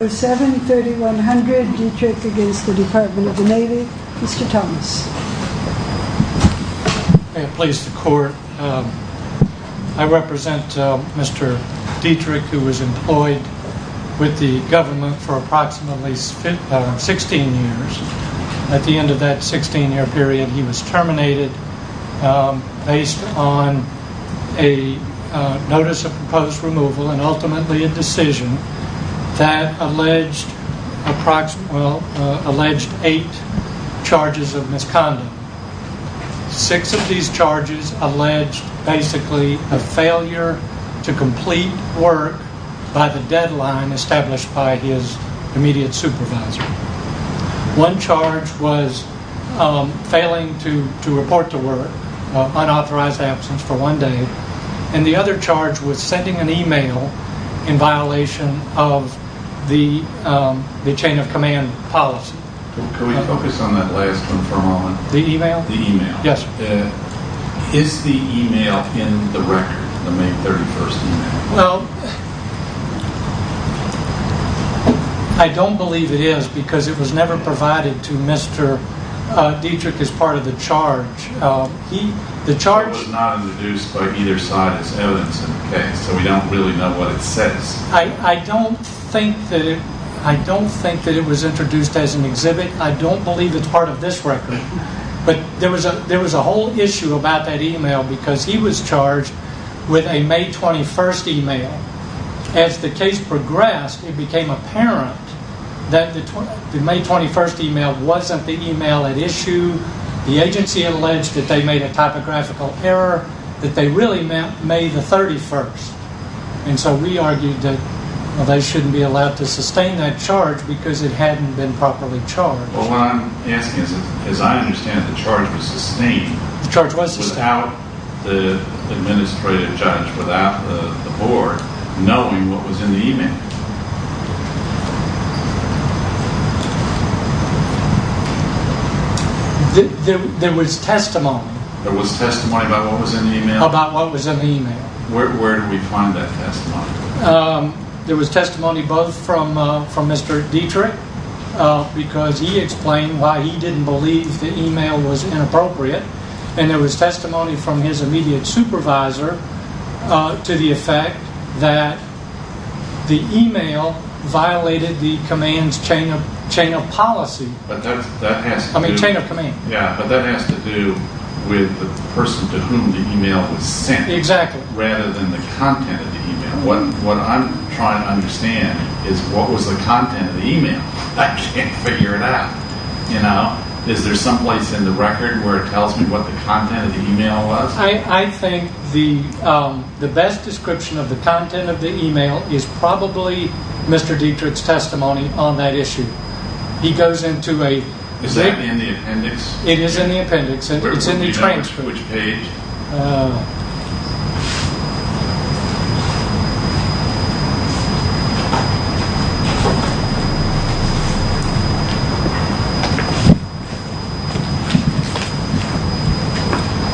Number 7, 3100, Dietrich against the Department of the Navy. Mr. Thomas. May it please the court, I represent Mr. Dietrich who was employed with the government for approximately 16 years. At the end of that 16 year period he was terminated based on a notice of proposed removal and ultimately a decision that alleged eight charges of misconduct. Six of these charges alleged basically a failure to complete work by the deadline established by his immediate supervisor. One charge was failing to report to work, unauthorized absence for one day. And the other charge was sending an email in violation of the chain of command policy. Can we focus on that last one for a moment? The email? The email. Yes. Is the email in the record, the May 31st email? Well, I don't believe it is because it was never provided to Mr. Dietrich as part of the charge. It was not introduced by either side as evidence in the case, so we don't really know what it says. I don't think that it was introduced as an exhibit. I don't believe it's part of this record. But there was a whole issue about that email because he was charged with a May 21st email. As the case progressed it became apparent that the May 21st email wasn't the email at issue. The agency alleged that they made a typographical error, that they really meant May the 31st. And so we argued that they shouldn't be allowed to sustain that charge because it hadn't been properly charged. Well, what I'm asking is, as I understand it, the charge was sustained. The charge was sustained. Without the administrative judge, without the board knowing what was in the email. There was testimony. There was testimony about what was in the email? About what was in the email. Where did we find that testimony? There was testimony both from Mr. Dietrich, because he explained why he didn't believe the email was inappropriate. And there was testimony from his immediate supervisor to the effect that the email violated the command's chain of policy. I mean, chain of command. Yeah, but that has to do with the person to whom the email was sent. Exactly. Rather than the content of the email. What I'm trying to understand is what was the content of the email? I can't figure it out. Is there some place in the record where it tells me what the content of the email was? I think the best description of the content of the email is probably Mr. Dietrich's testimony on that issue. He goes into a… Is that in the appendix? It is in the appendix. It's in the transcript. Which page?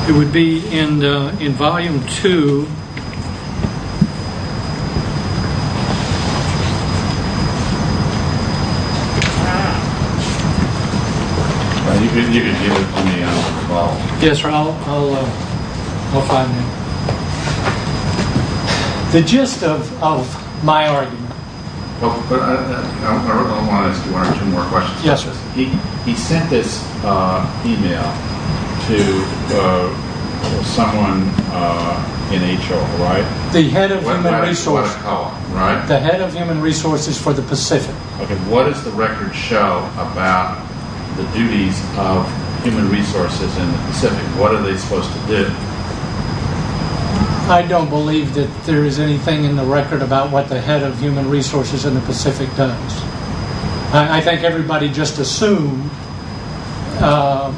It would be in volume two. You can give it to me. Yes, I'll find it. The gist of my argument… I want to ask you one or two more questions. Yes, sir. He sent this email to someone in HR, right? The head of human resources for the Pacific. What does the record show about the duties of human resources in the Pacific? What are they supposed to do? I don't believe that there is anything in the record about what the head of human resources in the Pacific does. I think everybody just assumed that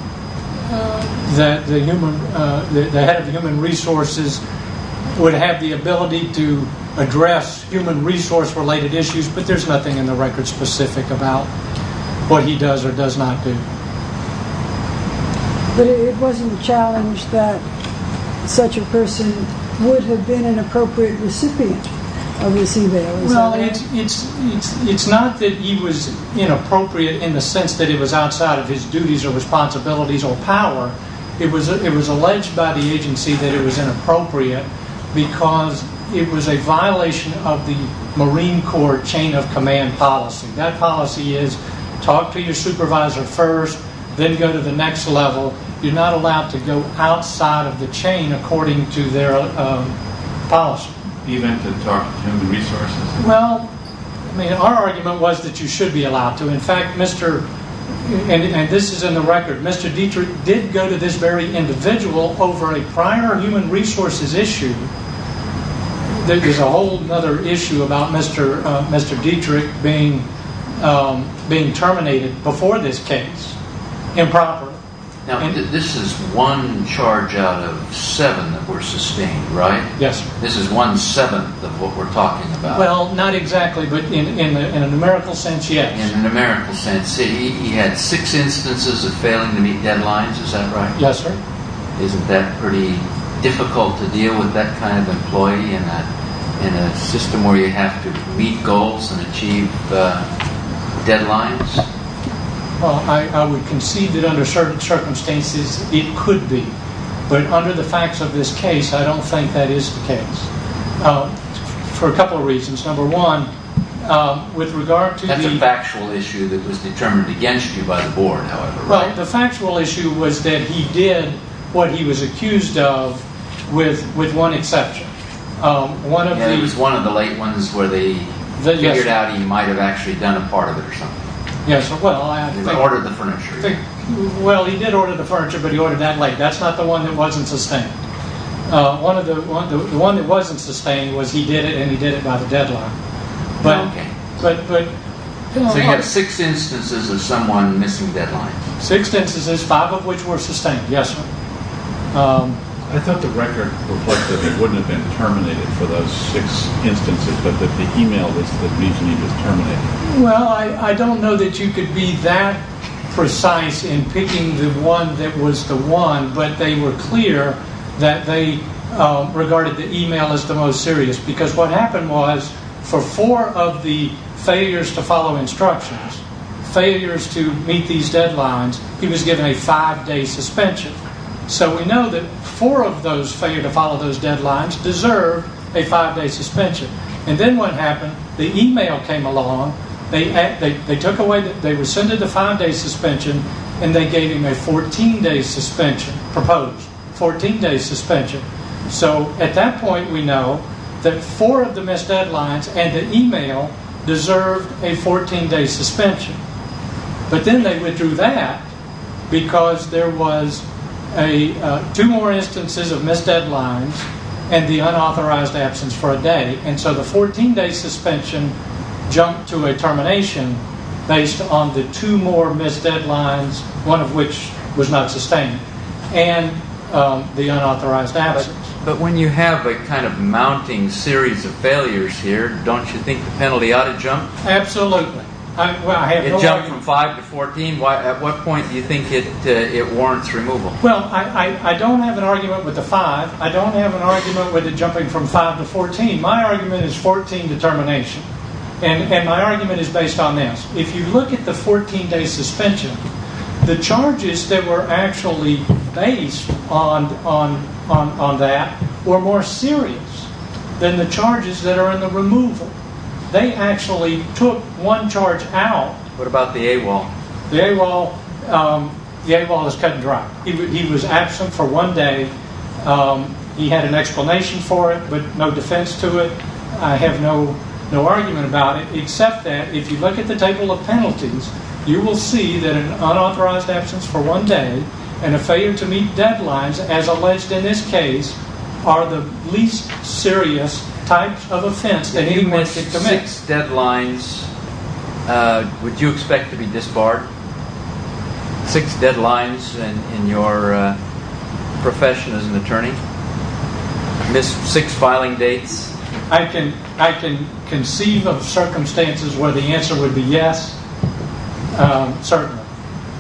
the head of human resources would have the ability to address human resource related issues, but there is nothing in the record specific about what he does or does not do. But it wasn't a challenge that such a person would have been an appropriate recipient of this email. Well, it's not that he was inappropriate in the sense that it was outside of his duties or responsibilities or power. It was alleged by the agency that it was inappropriate because it was a violation of the Marine Corps chain of command policy. That policy is talk to your supervisor first, then go to the next level. You're not allowed to go outside of the chain according to their policy. Even to talk to human resources? Well, our argument was that you should be allowed to. In fact, this is in the record, Mr. Dietrich did go to this very individual over a prior human resources issue. There was a whole other issue about Mr. Dietrich being terminated before this case improperly. Now, this is one charge out of seven that were sustained, right? Yes. This is one seventh of what we're talking about. Well, not exactly, but in a numerical sense, yes. In a numerical sense, he had six instances of failing to meet deadlines, is that right? Yes, sir. Isn't that pretty difficult to deal with that kind of employee in a system where you have to meet goals and achieve deadlines? Well, I would concede that under certain circumstances, it could be. But under the facts of this case, I don't think that is the case for a couple of reasons. Number one, with regard to the- That's a factual issue that was determined against you by the board, however, right? Right. The factual issue was that he did what he was accused of with one exception. He was one of the late ones where they figured out he might have actually done a part of it or something. Yes. He ordered the furniture. Well, he did order the furniture, but he ordered that late. That's not the one that wasn't sustained. The one that wasn't sustained was he did it and he did it by the deadline. Okay. So you have six instances of someone missing deadlines. Six instances, five of which were sustained, yes, sir. I thought the record reflected that it wouldn't have been terminated for those six instances, but that the email was the reason he was terminated. Well, I don't know that you could be that precise in picking the one that was the one, but they were clear that they regarded the email as the most serious because what happened was for four of the failures to follow instructions, failures to meet these deadlines, he was given a five-day suspension. So we know that four of those failure to follow those deadlines deserve a five-day suspension. And then what happened, the email came along. They took away the five-day suspension and they gave him a 14-day suspension, proposed 14-day suspension. So at that point we know that four of the missed deadlines and the email deserved a 14-day suspension. But then they withdrew that because there was two more instances of missed deadlines and the unauthorized absence for a day. And so the 14-day suspension jumped to a termination based on the two more missed deadlines, one of which was not sustained, and the unauthorized absence. But when you have a kind of mounting series of failures here, don't you think the penalty ought to jump? Absolutely. It jumped from five to 14. At what point do you think it warrants removal? Well, I don't have an argument with the five. I don't have an argument with it jumping from five to 14. My argument is 14 to termination. And my argument is based on this. If you look at the 14-day suspension, the charges that were actually based on that were more serious than the charges that are in the removal. They actually took one charge out. What about the AWOL? The AWOL is cut and dry. He was absent for one day. He had an explanation for it, but no defense to it. I have no argument about it, except that if you look at the table of penalties, you will see that an unauthorized absence for one day and a failure to meet deadlines, as alleged in this case, are the least serious types of offense that he was to commit. Six deadlines, would you expect to be disbarred? Six deadlines in your profession as an attorney? Missed six filing dates? I can conceive of circumstances where the answer would be yes, certainly.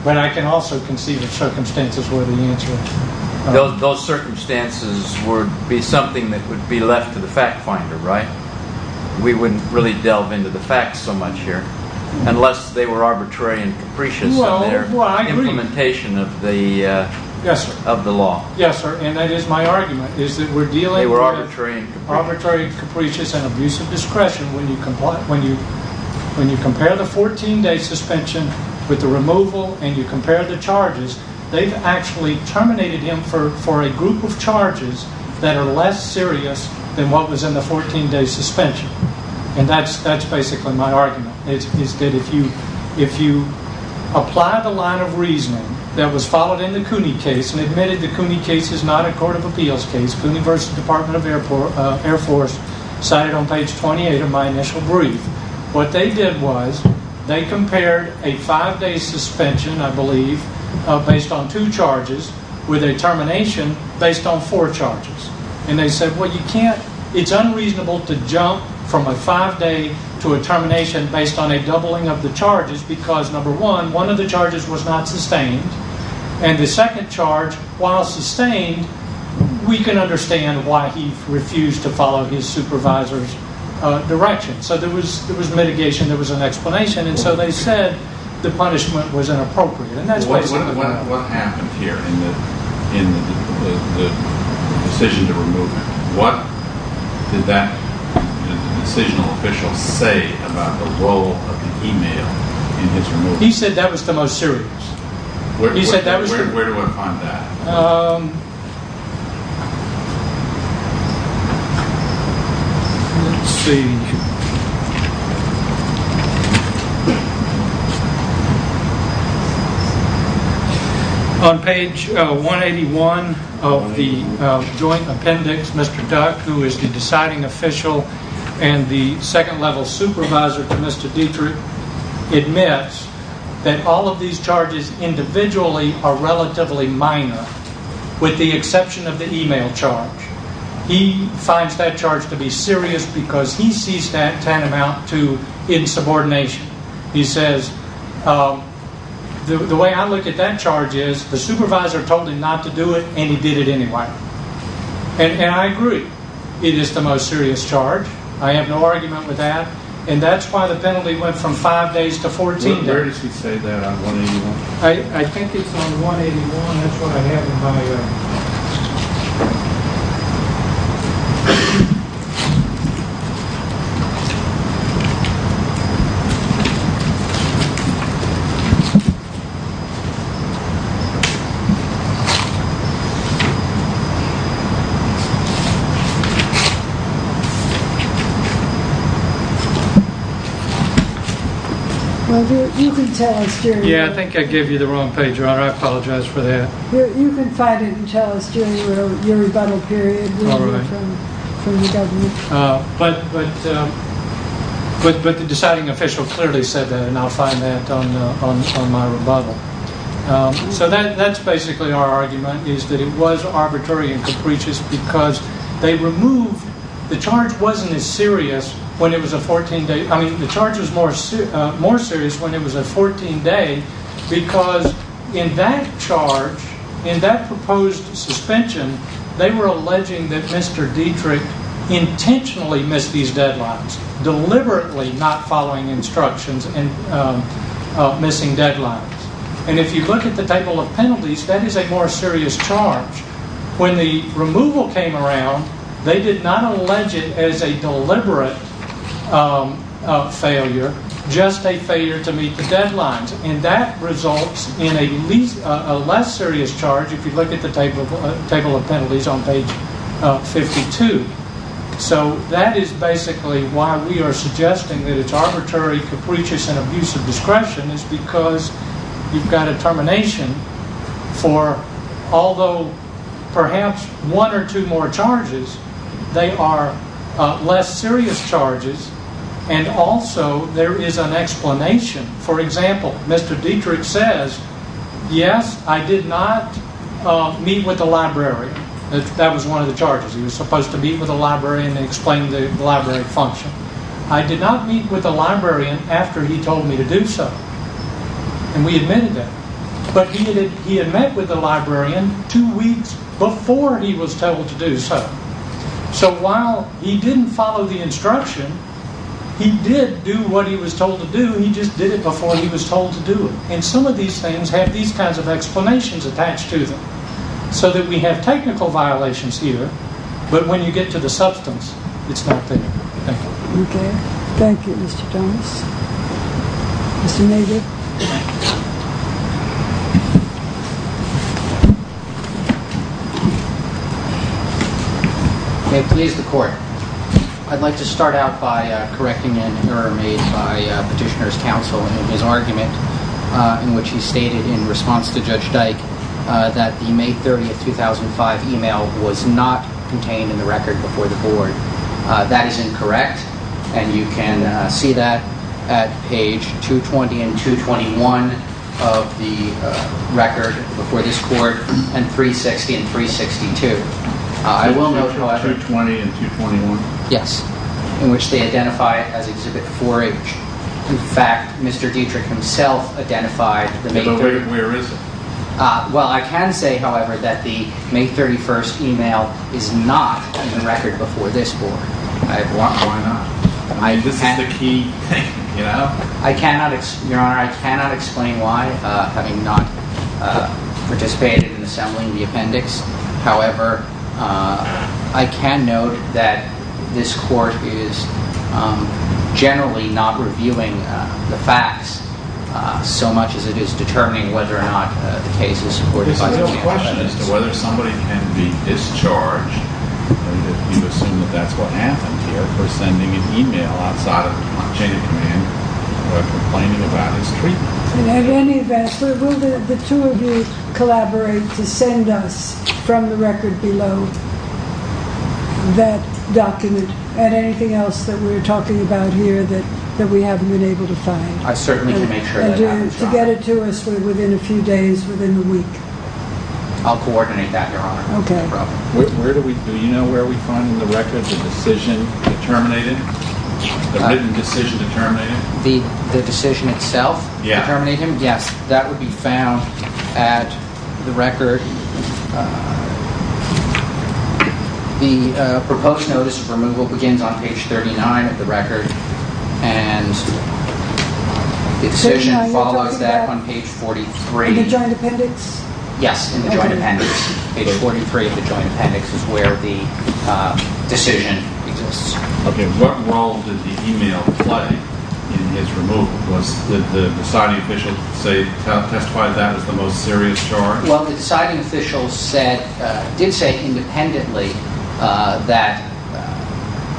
But I can also conceive of circumstances where the answer would be no. Those circumstances would be something that would be left to the fact finder, right? We wouldn't really delve into the facts so much here, unless they were arbitrary and capricious in their implementation of the law. Yes, sir, and that is my argument. They were arbitrary and capricious. Arbitrary and capricious and abuse of discretion. When you compare the 14-day suspension with the removal and you compare the charges, they've actually terminated him for a group of charges that are less serious than what was in the 14-day suspension. And that's basically my argument, is that if you apply the line of reasoning that was followed in the Cooney case and admitted the Cooney case is not a court of appeals case, Cooney v. Department of Air Force, cited on page 28 of my initial brief, what they did was they compared a five-day suspension, I believe, based on two charges with a termination based on four charges. And they said, well, it's unreasonable to jump from a five-day to a termination based on a doubling of the charges because, number one, one of the charges was not sustained and the second charge, while sustained, we can understand why he refused to follow his supervisor's direction. So there was mitigation, there was an explanation, and so they said the punishment was inappropriate. What happened here in the decision to remove him? What did that decisional official say about the role of the email in his removal? He said that was the most serious. Where do I find that? Let's see. On page 181 of the joint appendix, Mr. Duck, who is the deciding official and the second-level supervisor to Mr. Dietrich, admits that all of these charges individually are relatively minor with the exception of the email charge. He finds that charge to be serious because he sees that tantamount to insubordination. He says, the way I look at that charge is the supervisor told him not to do it and he did it anyway. And I agree, it is the most serious charge. I have no argument with that. And that's why the penalty went from five days to 14 days. Where does he say that on 181? I think it's on 181. That's what I have in my note. Thank you. Yeah, I think I gave you the wrong page, Your Honor. I apologize for that. You can find it in Chalice during your rebuttal period. All right. But the deciding official clearly said that, and I'll find that on my rebuttal. So that's basically our argument, is that it was arbitrary and capricious because they removed, the charge wasn't as serious when it was a 14-day, I mean, the charge was more serious when it was a 14-day because in that charge, in that proposed suspension, they were alleging that Mr. Dietrich intentionally missed these deadlines, deliberately not following instructions and missing deadlines. And if you look at the table of penalties, that is a more serious charge. When the removal came around, they did not allege it as a deliberate failure, just a failure to meet the deadlines. And that results in a less serious charge, if you look at the table of penalties on page 52. So that is basically why we are suggesting that it's arbitrary, capricious, and abuse of discretion is because you've got a termination for, although perhaps one or two more charges, they are less serious charges, and also there is an explanation. For example, Mr. Dietrich says, yes, I did not meet with the library. That was one of the charges. He was supposed to meet with the librarian and explain the library function. I did not meet with the librarian after he told me to do so. And we admitted that. But he had met with the librarian two weeks before he was told to do so. So while he didn't follow the instruction, he did do what he was told to do, he just did it before he was told to do it. And some of these things have these kinds of explanations attached to them so that we have technical violations here, but when you get to the substance, it's not there. Thank you. Okay. Thank you, Mr. Thomas. Mr. Navid. May it please the Court. I'd like to start out by correcting an error made by Petitioner's Counsel in his argument in which he stated in response to Judge Dyke that the May 30, 2005, email was not contained in the record before the Court. That is incorrect, and you can see that at page 220 and 221 of the record before this Court, and 360 and 362. Page 220 and 221? Yes. In which they identify it as Exhibit 4H. In fact, Mr. Dietrich himself identified the May 30th. But where is it? Well, I can say, however, that the May 31st email is not in the record before this Court. Why not? This is the key thing, you know? Your Honor, I cannot explain why, having not participated in assembling the appendix. However, I can note that this Court is generally not reviewing the facts so much as it is determining whether or not the case is supported by the Chief Justice. There's a real question as to whether somebody can be discharged, and you assume that that's what happened here, for sending an email outside of the chain of command or complaining about his treatment. At any event, will the two of you collaborate to send us, from the record below, that document and anything else that we're talking about here that we haven't been able to find? I certainly can make sure that happens, Your Honor. And to get it to us within a few days, within a week? I'll coordinate that, Your Honor. Okay. Do you know where we find the record of the decision that terminated? The written decision that terminated? The decision itself? Yes. That would be found at the record. The proposed notice of removal begins on page 39 of the record, and the decision follows that on page 43. In the joint appendix? Yes, in the joint appendix. Page 43 of the joint appendix is where the decision exists. Okay. What role did the email play in his removal? Did the deciding official testify that as the most serious charge? Well, the deciding official did say independently that,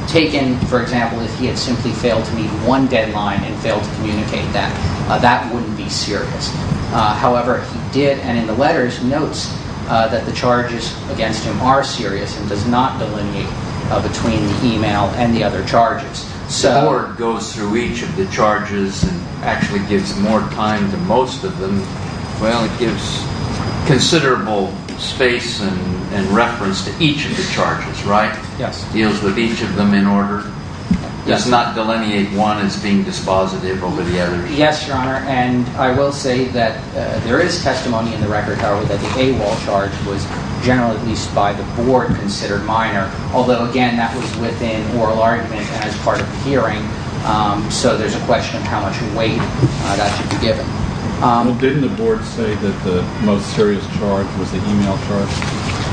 taken, for example, if he had simply failed to meet one deadline and failed to communicate that, that wouldn't be serious. However, he did, and in the letters, notes that the charges against him are serious and does not delineate between the email and the other charges. The board goes through each of the charges and actually gives more time to most of them. Well, it gives considerable space and reference to each of the charges, right? Yes. It deals with each of them in order. It does not delineate one as being dispositive over the other. Yes, Your Honor. And I will say that there is testimony in the record, however, that the AWOL charge was generally, at least by the board, considered minor. Although, again, that was within oral argument and as part of the hearing, so there's a question of how much weight that should be given. Well, didn't the board say that the most serious charge was the email charge?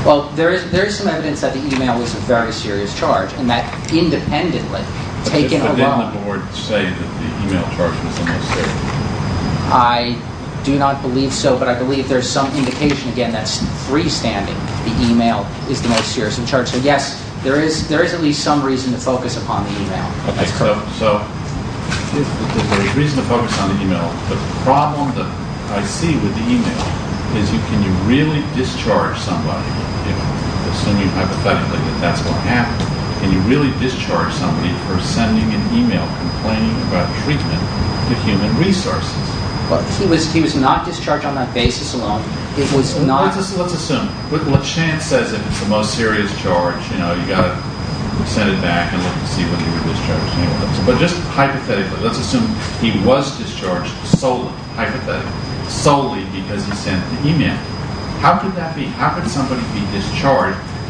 Well, there is some evidence that the email was a very serious charge, and that independently, taken alone. Did the board on the board say that the email charge was the most serious? I do not believe so, but I believe there's some indication, again, that's freestanding, the email is the most serious of charges. So, yes, there is at least some reason to focus upon the email. Okay, so there's a reason to focus on the email, but the problem that I see with the email is can you really discharge somebody, assuming hypothetically that that's going to happen, can you really discharge somebody for sending an email complaining about treatment to Human Resources? He was not discharged on that basis alone. Let's assume LeChant says it's the most serious charge, you know, you've got to send it back and look to see whether he was discharged or not. But just hypothetically, let's assume he was discharged solely, hypothetically, solely because he sent the email. How could that be?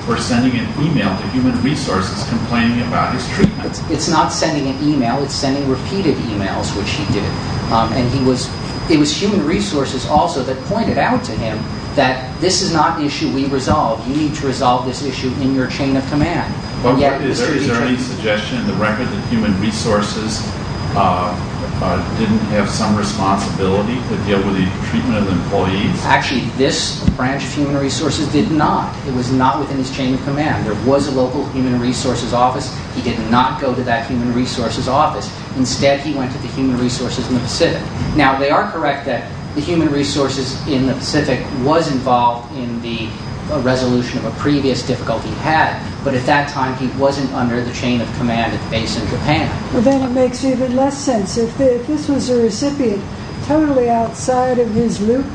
for sending an email to Human Resources complaining about his treatment? It's not sending an email, it's sending repeated emails, which he did. And it was Human Resources also that pointed out to him that this is not an issue we resolve, you need to resolve this issue in your chain of command. Is there any suggestion in the record that Human Resources didn't have some responsibility to deal with the treatment of employees? Actually, this branch of Human Resources did not. It was not within his chain of command. There was a local Human Resources office. He did not go to that Human Resources office. Instead, he went to the Human Resources in the Pacific. Now, they are correct that the Human Resources in the Pacific was involved in the resolution of a previous difficulty he had, but at that time he wasn't under the chain of command at the base in Japan. Then it makes even less sense. If this was a recipient totally outside of his loop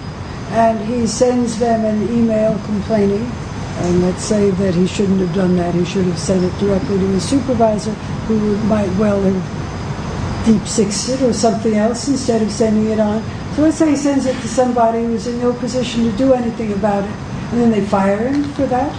and he sends them an email complaining, and let's say that he shouldn't have done that, he should have sent it directly to his supervisor who might well have deep-sixed it or something else instead of sending it on. So let's say he sends it to somebody who's in no position to do anything about it, and then they fire him for that.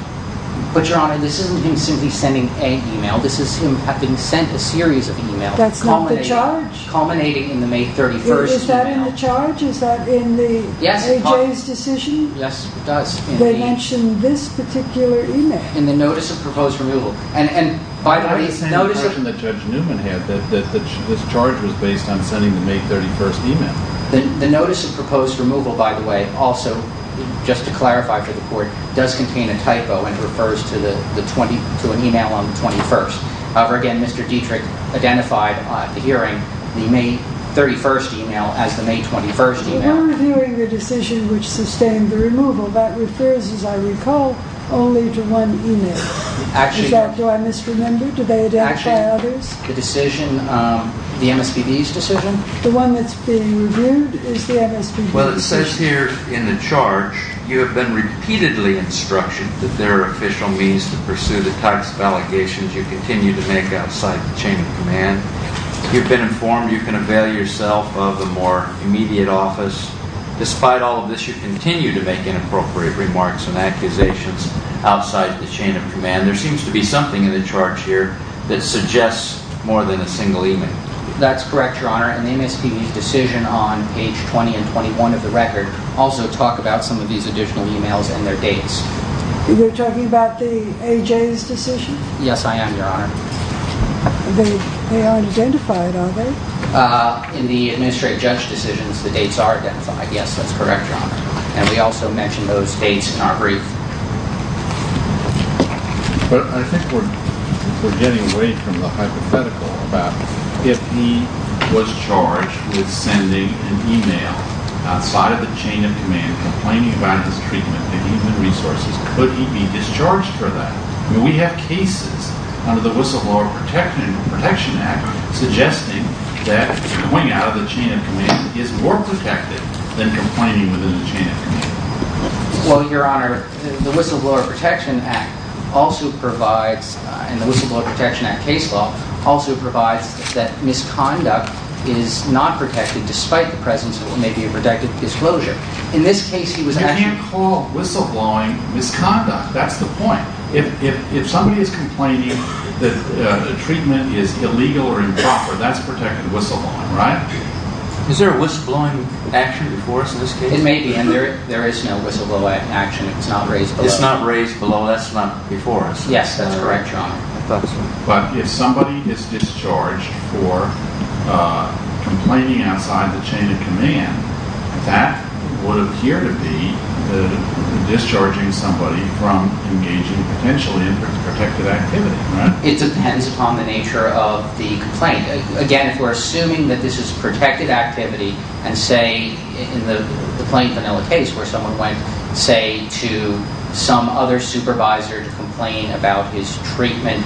But, Your Honor, this isn't him simply sending a email. This is him having sent a series of emails. That's not the charge. Culminating in the May 31st email. Is that in the charge? Is that in the A.J.'s decision? Yes, it does. They mentioned this particular email. In the notice of proposed removal. And, by the way, notice of... It's not the same version that Judge Newman had, that this charge was based on sending the May 31st email. The notice of proposed removal, by the way, also, just to clarify for the Court, does contain a typo and refers to an email on the 21st. However, again, Mr. Dietrich identified the hearing, the May 31st email, as the May 21st email. But we're reviewing the decision which sustained the removal. That refers, as I recall, only to one email. Is that what I misremember? Do they identify others? The decision, the MSPB's decision? The one that's being reviewed is the MSPB's decision. Well, it says here in the charge, You have been repeatedly instructed that there are official means to pursue the types of allegations you continue to make outside the chain of command. You've been informed you can avail yourself of a more immediate office. Despite all of this, you continue to make inappropriate remarks and accusations outside the chain of command. There seems to be something in the charge here that suggests more than a single email. That's correct, Your Honor. And the MSPB's decision on page 20 and 21 of the record also talk about some of these additional emails and their dates. You're talking about the AJ's decision? Yes, I am, Your Honor. They aren't identified, are they? In the administrate judge decisions, the dates are identified. Yes, that's correct, Your Honor. And we also mention those dates in our brief. But I think we're getting away from the hypothetical about if he was charged with sending an email outside of the chain of command, complaining about his treatment of human resources, could he be discharged for that? I mean, we have cases under the Whistleblower Protection Act suggesting that going out of the chain of command is more protective than complaining within the chain of command. Well, Your Honor, the Whistleblower Protection Act also provides, and the Whistleblower Protection Act case law, also provides that misconduct is not protected despite the presence of what may be a protected disclosure. In this case, he was actually- You can't call whistleblowing misconduct. That's the point. If somebody is complaining that the treatment is illegal or improper, that's protected whistleblowing, right? Is there a whistleblowing action before us in this case? It may be, and there is no whistleblowing action. It's not raised below us. It's not raised below us, not before us. Yes, that's correct, Your Honor. But if somebody is discharged for complaining outside the chain of command, that would appear to be discharging somebody from engaging potentially in protected activity, right? It depends upon the nature of the complaint. Again, if we're assuming that this is protected activity, and say, in the Plain Vanilla case, where someone went, say, to some other supervisor to complain about his treatment,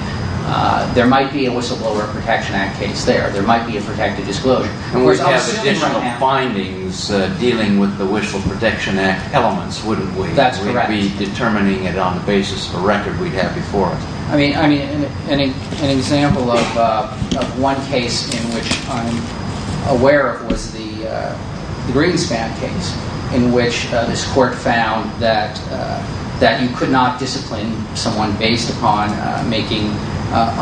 there might be a Whistleblower Protection Act case there. There might be a protected disclosure. And we'd have additional findings dealing with the Whistleblower Protection Act elements, wouldn't we? That's correct. We'd be determining it on the basis of a record we'd have before us. I mean, an example of one case in which I'm aware of was the Greenspan case, in which this court found that you could not discipline someone based upon making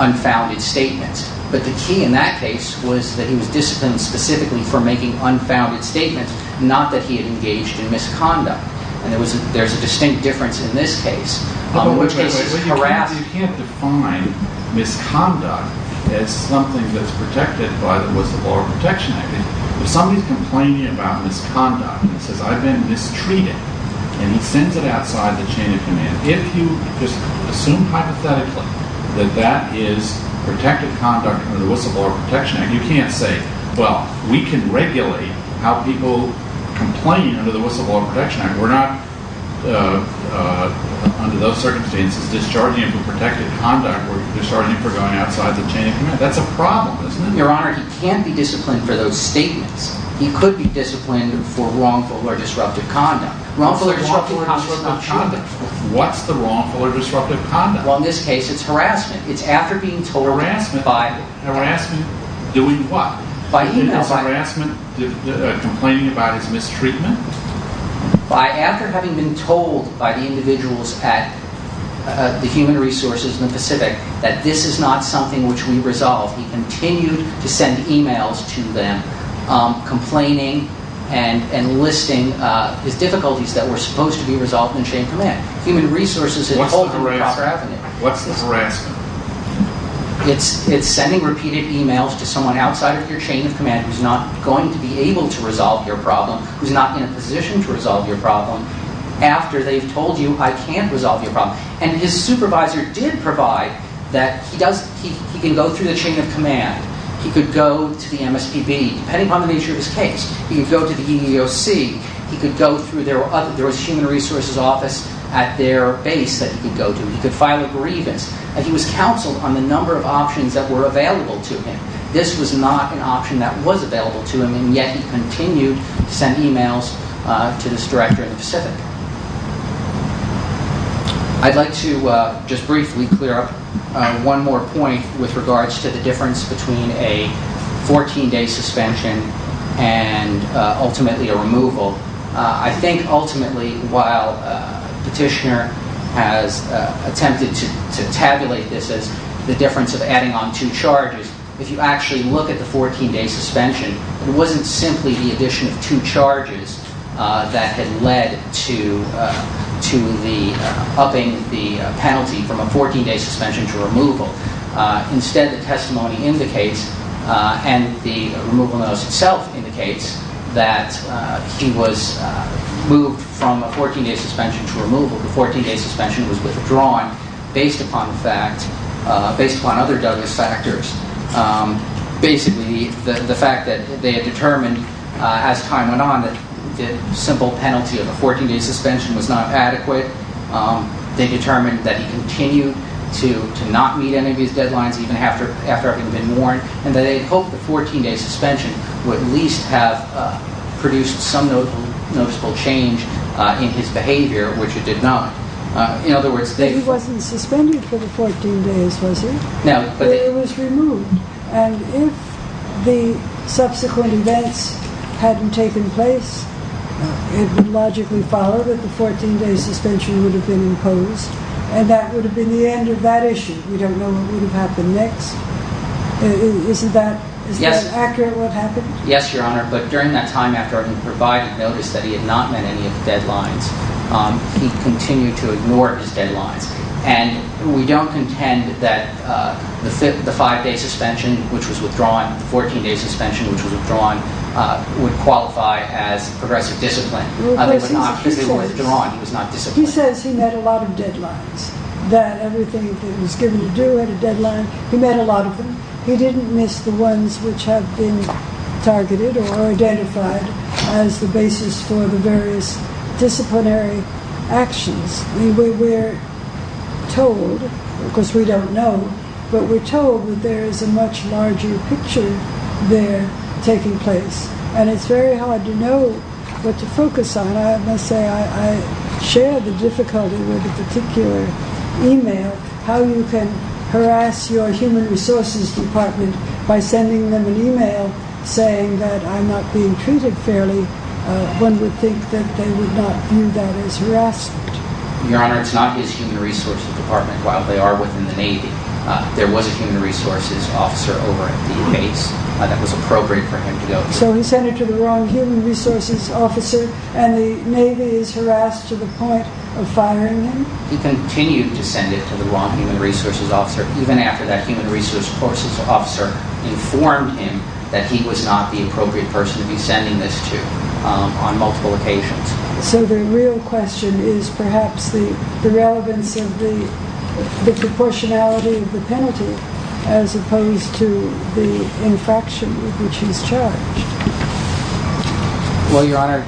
unfounded statements. But the key in that case was that he was disciplined specifically for making unfounded statements, not that he had engaged in misconduct. And there's a distinct difference in this case. You can't define misconduct as something that's protected by the Whistleblower Protection Act. If somebody's complaining about misconduct and says, I've been mistreated, and he sends it outside the chain of command, if you just assume hypothetically that that is protected conduct under the Whistleblower Protection Act, you can't say, well, we can regulate how people complain under the Whistleblower Protection Act. We're not, under those circumstances, discharging him for protected conduct. We're discharging him for going outside the chain of command. That's a problem, isn't it? Your Honor, he can't be disciplined for those statements. He could be disciplined for wrongful or disruptive conduct. Wrongful or disruptive conduct is not conduct. What's the wrongful or disruptive conduct? Well, in this case, it's harassment. It's after being told by— Harassment. Harassment. Doing what? By email. Is harassment complaining about his mistreatment? By—after having been told by the individuals at the Human Resources in the Pacific that this is not something which we resolve, he continued to send emails to them, complaining and listing his difficulties that were supposed to be resolved in the chain of command. Human Resources had told him the proper avenue. What's the harassment? who's not going to be able to resolve your problem, who's not in a position to resolve your problem, after they've told you, I can't resolve your problem. And his supervisor did provide that he does— he can go through the chain of command. He could go to the MSPB, depending upon the nature of his case. He could go to the EEOC. He could go through their— there was a Human Resources office at their base that he could go to. He could file a grievance. And he was counseled on the number of options that were available to him. This was not an option that was available to him, and yet he continued to send emails to this director in the Pacific. I'd like to just briefly clear up one more point with regards to the difference between a 14-day suspension and, ultimately, a removal. I think, ultimately, while Petitioner has attempted to tabulate this as the difference of adding on two charges, if you actually look at the 14-day suspension, it wasn't simply the addition of two charges that had led to the upping the penalty from a 14-day suspension to removal. Instead, the testimony indicates, and the removal notice itself indicates, that he was moved from a 14-day suspension to removal. The 14-day suspension was withdrawn based upon other Douglas factors. Basically, the fact that they had determined, as time went on, that the simple penalty of a 14-day suspension was not adequate. They determined that he continued to not meet any of his deadlines, even after having been warned, and that they hoped the 14-day suspension would at least have produced some noticeable change in his behavior, which it did not. But he wasn't suspended for the 14 days, was he? No. But he was removed. And if the subsequent events hadn't taken place, it would logically follow that the 14-day suspension would have been imposed, and that would have been the end of that issue. We don't know what would have happened next. Is that accurate, what happened? Yes, Your Honor. But during that time, after having provided notice that he had not met any of the deadlines, he continued to ignore his deadlines. And we don't contend that the 5-day suspension, which was withdrawn, the 14-day suspension, which was withdrawn, would qualify as progressive discipline. Because he was withdrawn. He was not disciplined. He says he met a lot of deadlines, that everything that was given to do at a deadline, he met a lot of them. He didn't miss the ones which have been targeted or identified as the basis for the various disciplinary actions. We were told, because we don't know, but we're told that there is a much larger picture there taking place. And it's very hard to know what to focus on. I must say I share the difficulty with a particular email, how you can harass your human resources department by sending them an email saying that I'm not being treated fairly. One would think that they would not view that as harassment. Your Honor, it's not his human resources department. While they are within the Navy, there was a human resources officer over at the base that was appropriate for him to go to. So he sent it to the wrong human resources officer, and the Navy is harassed to the point of firing him? He continued to send it to the wrong human resources officer, even after that human resources officer informed him that he was not the appropriate person to be sending this to on multiple occasions. So the real question is perhaps the relevance of the proportionality of the penalty as opposed to the infraction with which he's charged. Well, Your Honor,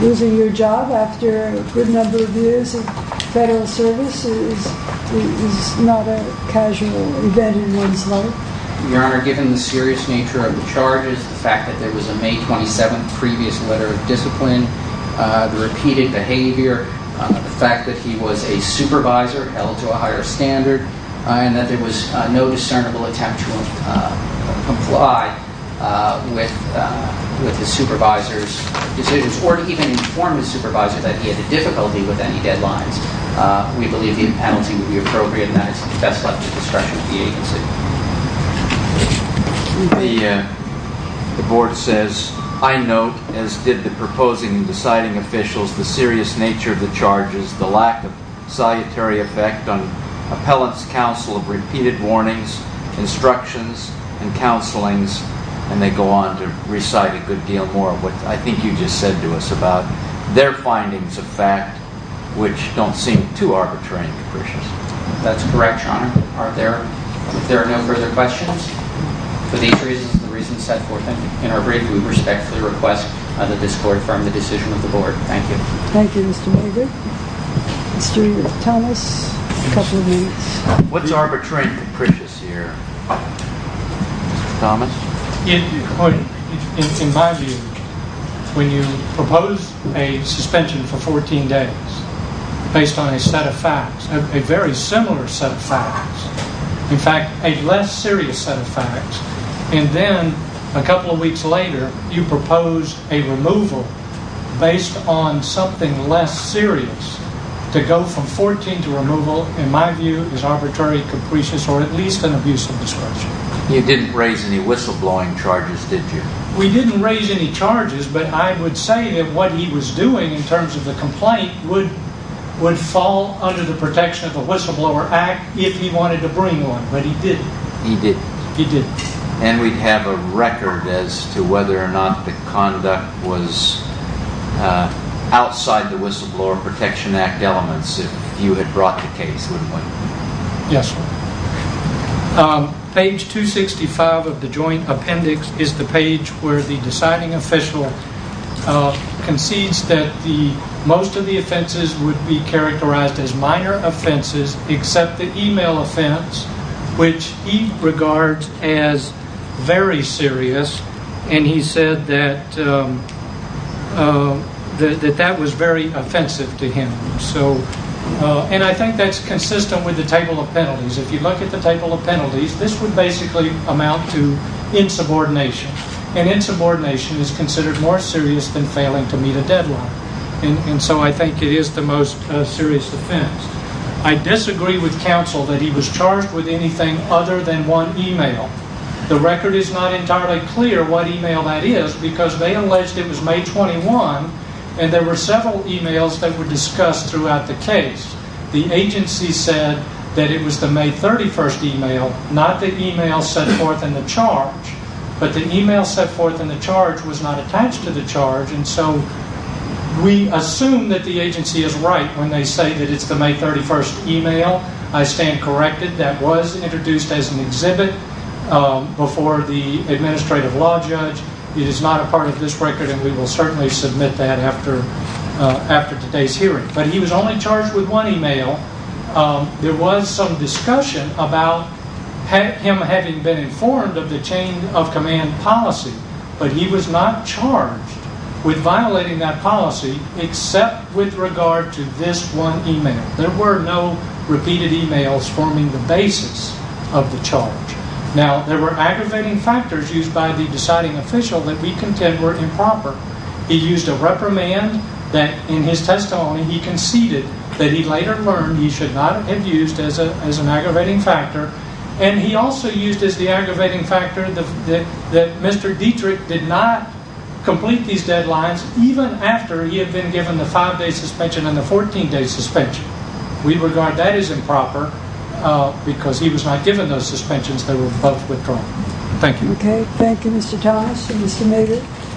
losing your job after a good number of years of federal service is not a casual event in one's life. Your Honor, given the serious nature of the charges, the fact that there was a May 27th previous letter of discipline, the repeated behavior, the fact that he was a supervisor held to a higher standard, and that there was no discernible attempt to comply with the supervisor's decisions, or even inform the supervisor that he had a difficulty with any deadlines, we believe the impenalty would be appropriate, and that is best left to the discretion of the agency. The Board says, I note, as did the proposing and deciding officials, the serious nature of the charges, the lack of solitary effect on appellant's counsel of repeated warnings, instructions, and counselings, and they go on to recite a good deal more of what I think you just said to us about their findings of fact, which don't seem too arbitrary and capricious. That's correct, Your Honor. If there are no further questions, for these reasons and the reasons set forth in our brief, we respectfully request that this Court affirm the decision of the Board. Thank you. Thank you, Mr. Mulder. Mr. Thomas, a couple of minutes. What's arbitrary and capricious here? Mr. Thomas? In my view, when you propose a suspension for 14 days based on a set of facts, a very similar set of facts, in fact, a less serious set of facts, and then, a couple of weeks later, you propose a removal based on something less serious to go from 14 to removal, in my view, is arbitrary, capricious, or at least an abuse of discretion. You didn't raise any whistleblowing charges, did you? We didn't raise any charges, but I would say that what he was doing in terms of the complaint would fall under the protection of the Whistleblower Act if he wanted to bring one, but he didn't. He didn't. He didn't. And we'd have a record as to whether or not the conduct was outside the Whistleblower Protection Act elements if you had brought the case, wouldn't we? Yes, sir. Page 265 of the Joint Appendix is the page where the deciding official concedes that most of the offenses would be characterized as minor offenses except the email offense, which he regards as very serious, and he said that that was very offensive to him. And I think that's consistent with the table of penalties. If you look at the table of penalties, this would basically amount to insubordination, and insubordination is considered more serious than failing to meet a deadline, and so I think it is the most serious offense. I disagree with counsel that he was charged with anything other than one email. The record is not entirely clear what email that is because they alleged it was May 21, and there were several emails that were discussed throughout the case. The agency said that it was the May 31 email, not the email set forth in the charge, but the email set forth in the charge was not attached to the charge, and so we assume that the agency is right when they say that it's the May 31 email. I stand corrected. That was introduced as an exhibit before the administrative law judge. It is not a part of this record, and we will certainly submit that after today's hearing. But he was only charged with one email. There was some discussion about him having been informed of the chain of command policy, but he was not charged with violating that policy except with regard to this one email. There were no repeated emails forming the basis of the charge. Now, there were aggravating factors used by the deciding official that we contend were improper. He used a reprimand that in his testimony he conceded that he later learned he should not have used as an aggravating factor, and he also used as the aggravating factor that Mr. Dietrich did not complete these deadlines even after he had been given the 5-day suspension and the 14-day suspension. We regard that as improper because he was not given those suspensions. They were both withdrawn. Thank you. Okay. Thank you, Mr. Thomas and Mr. Maynard.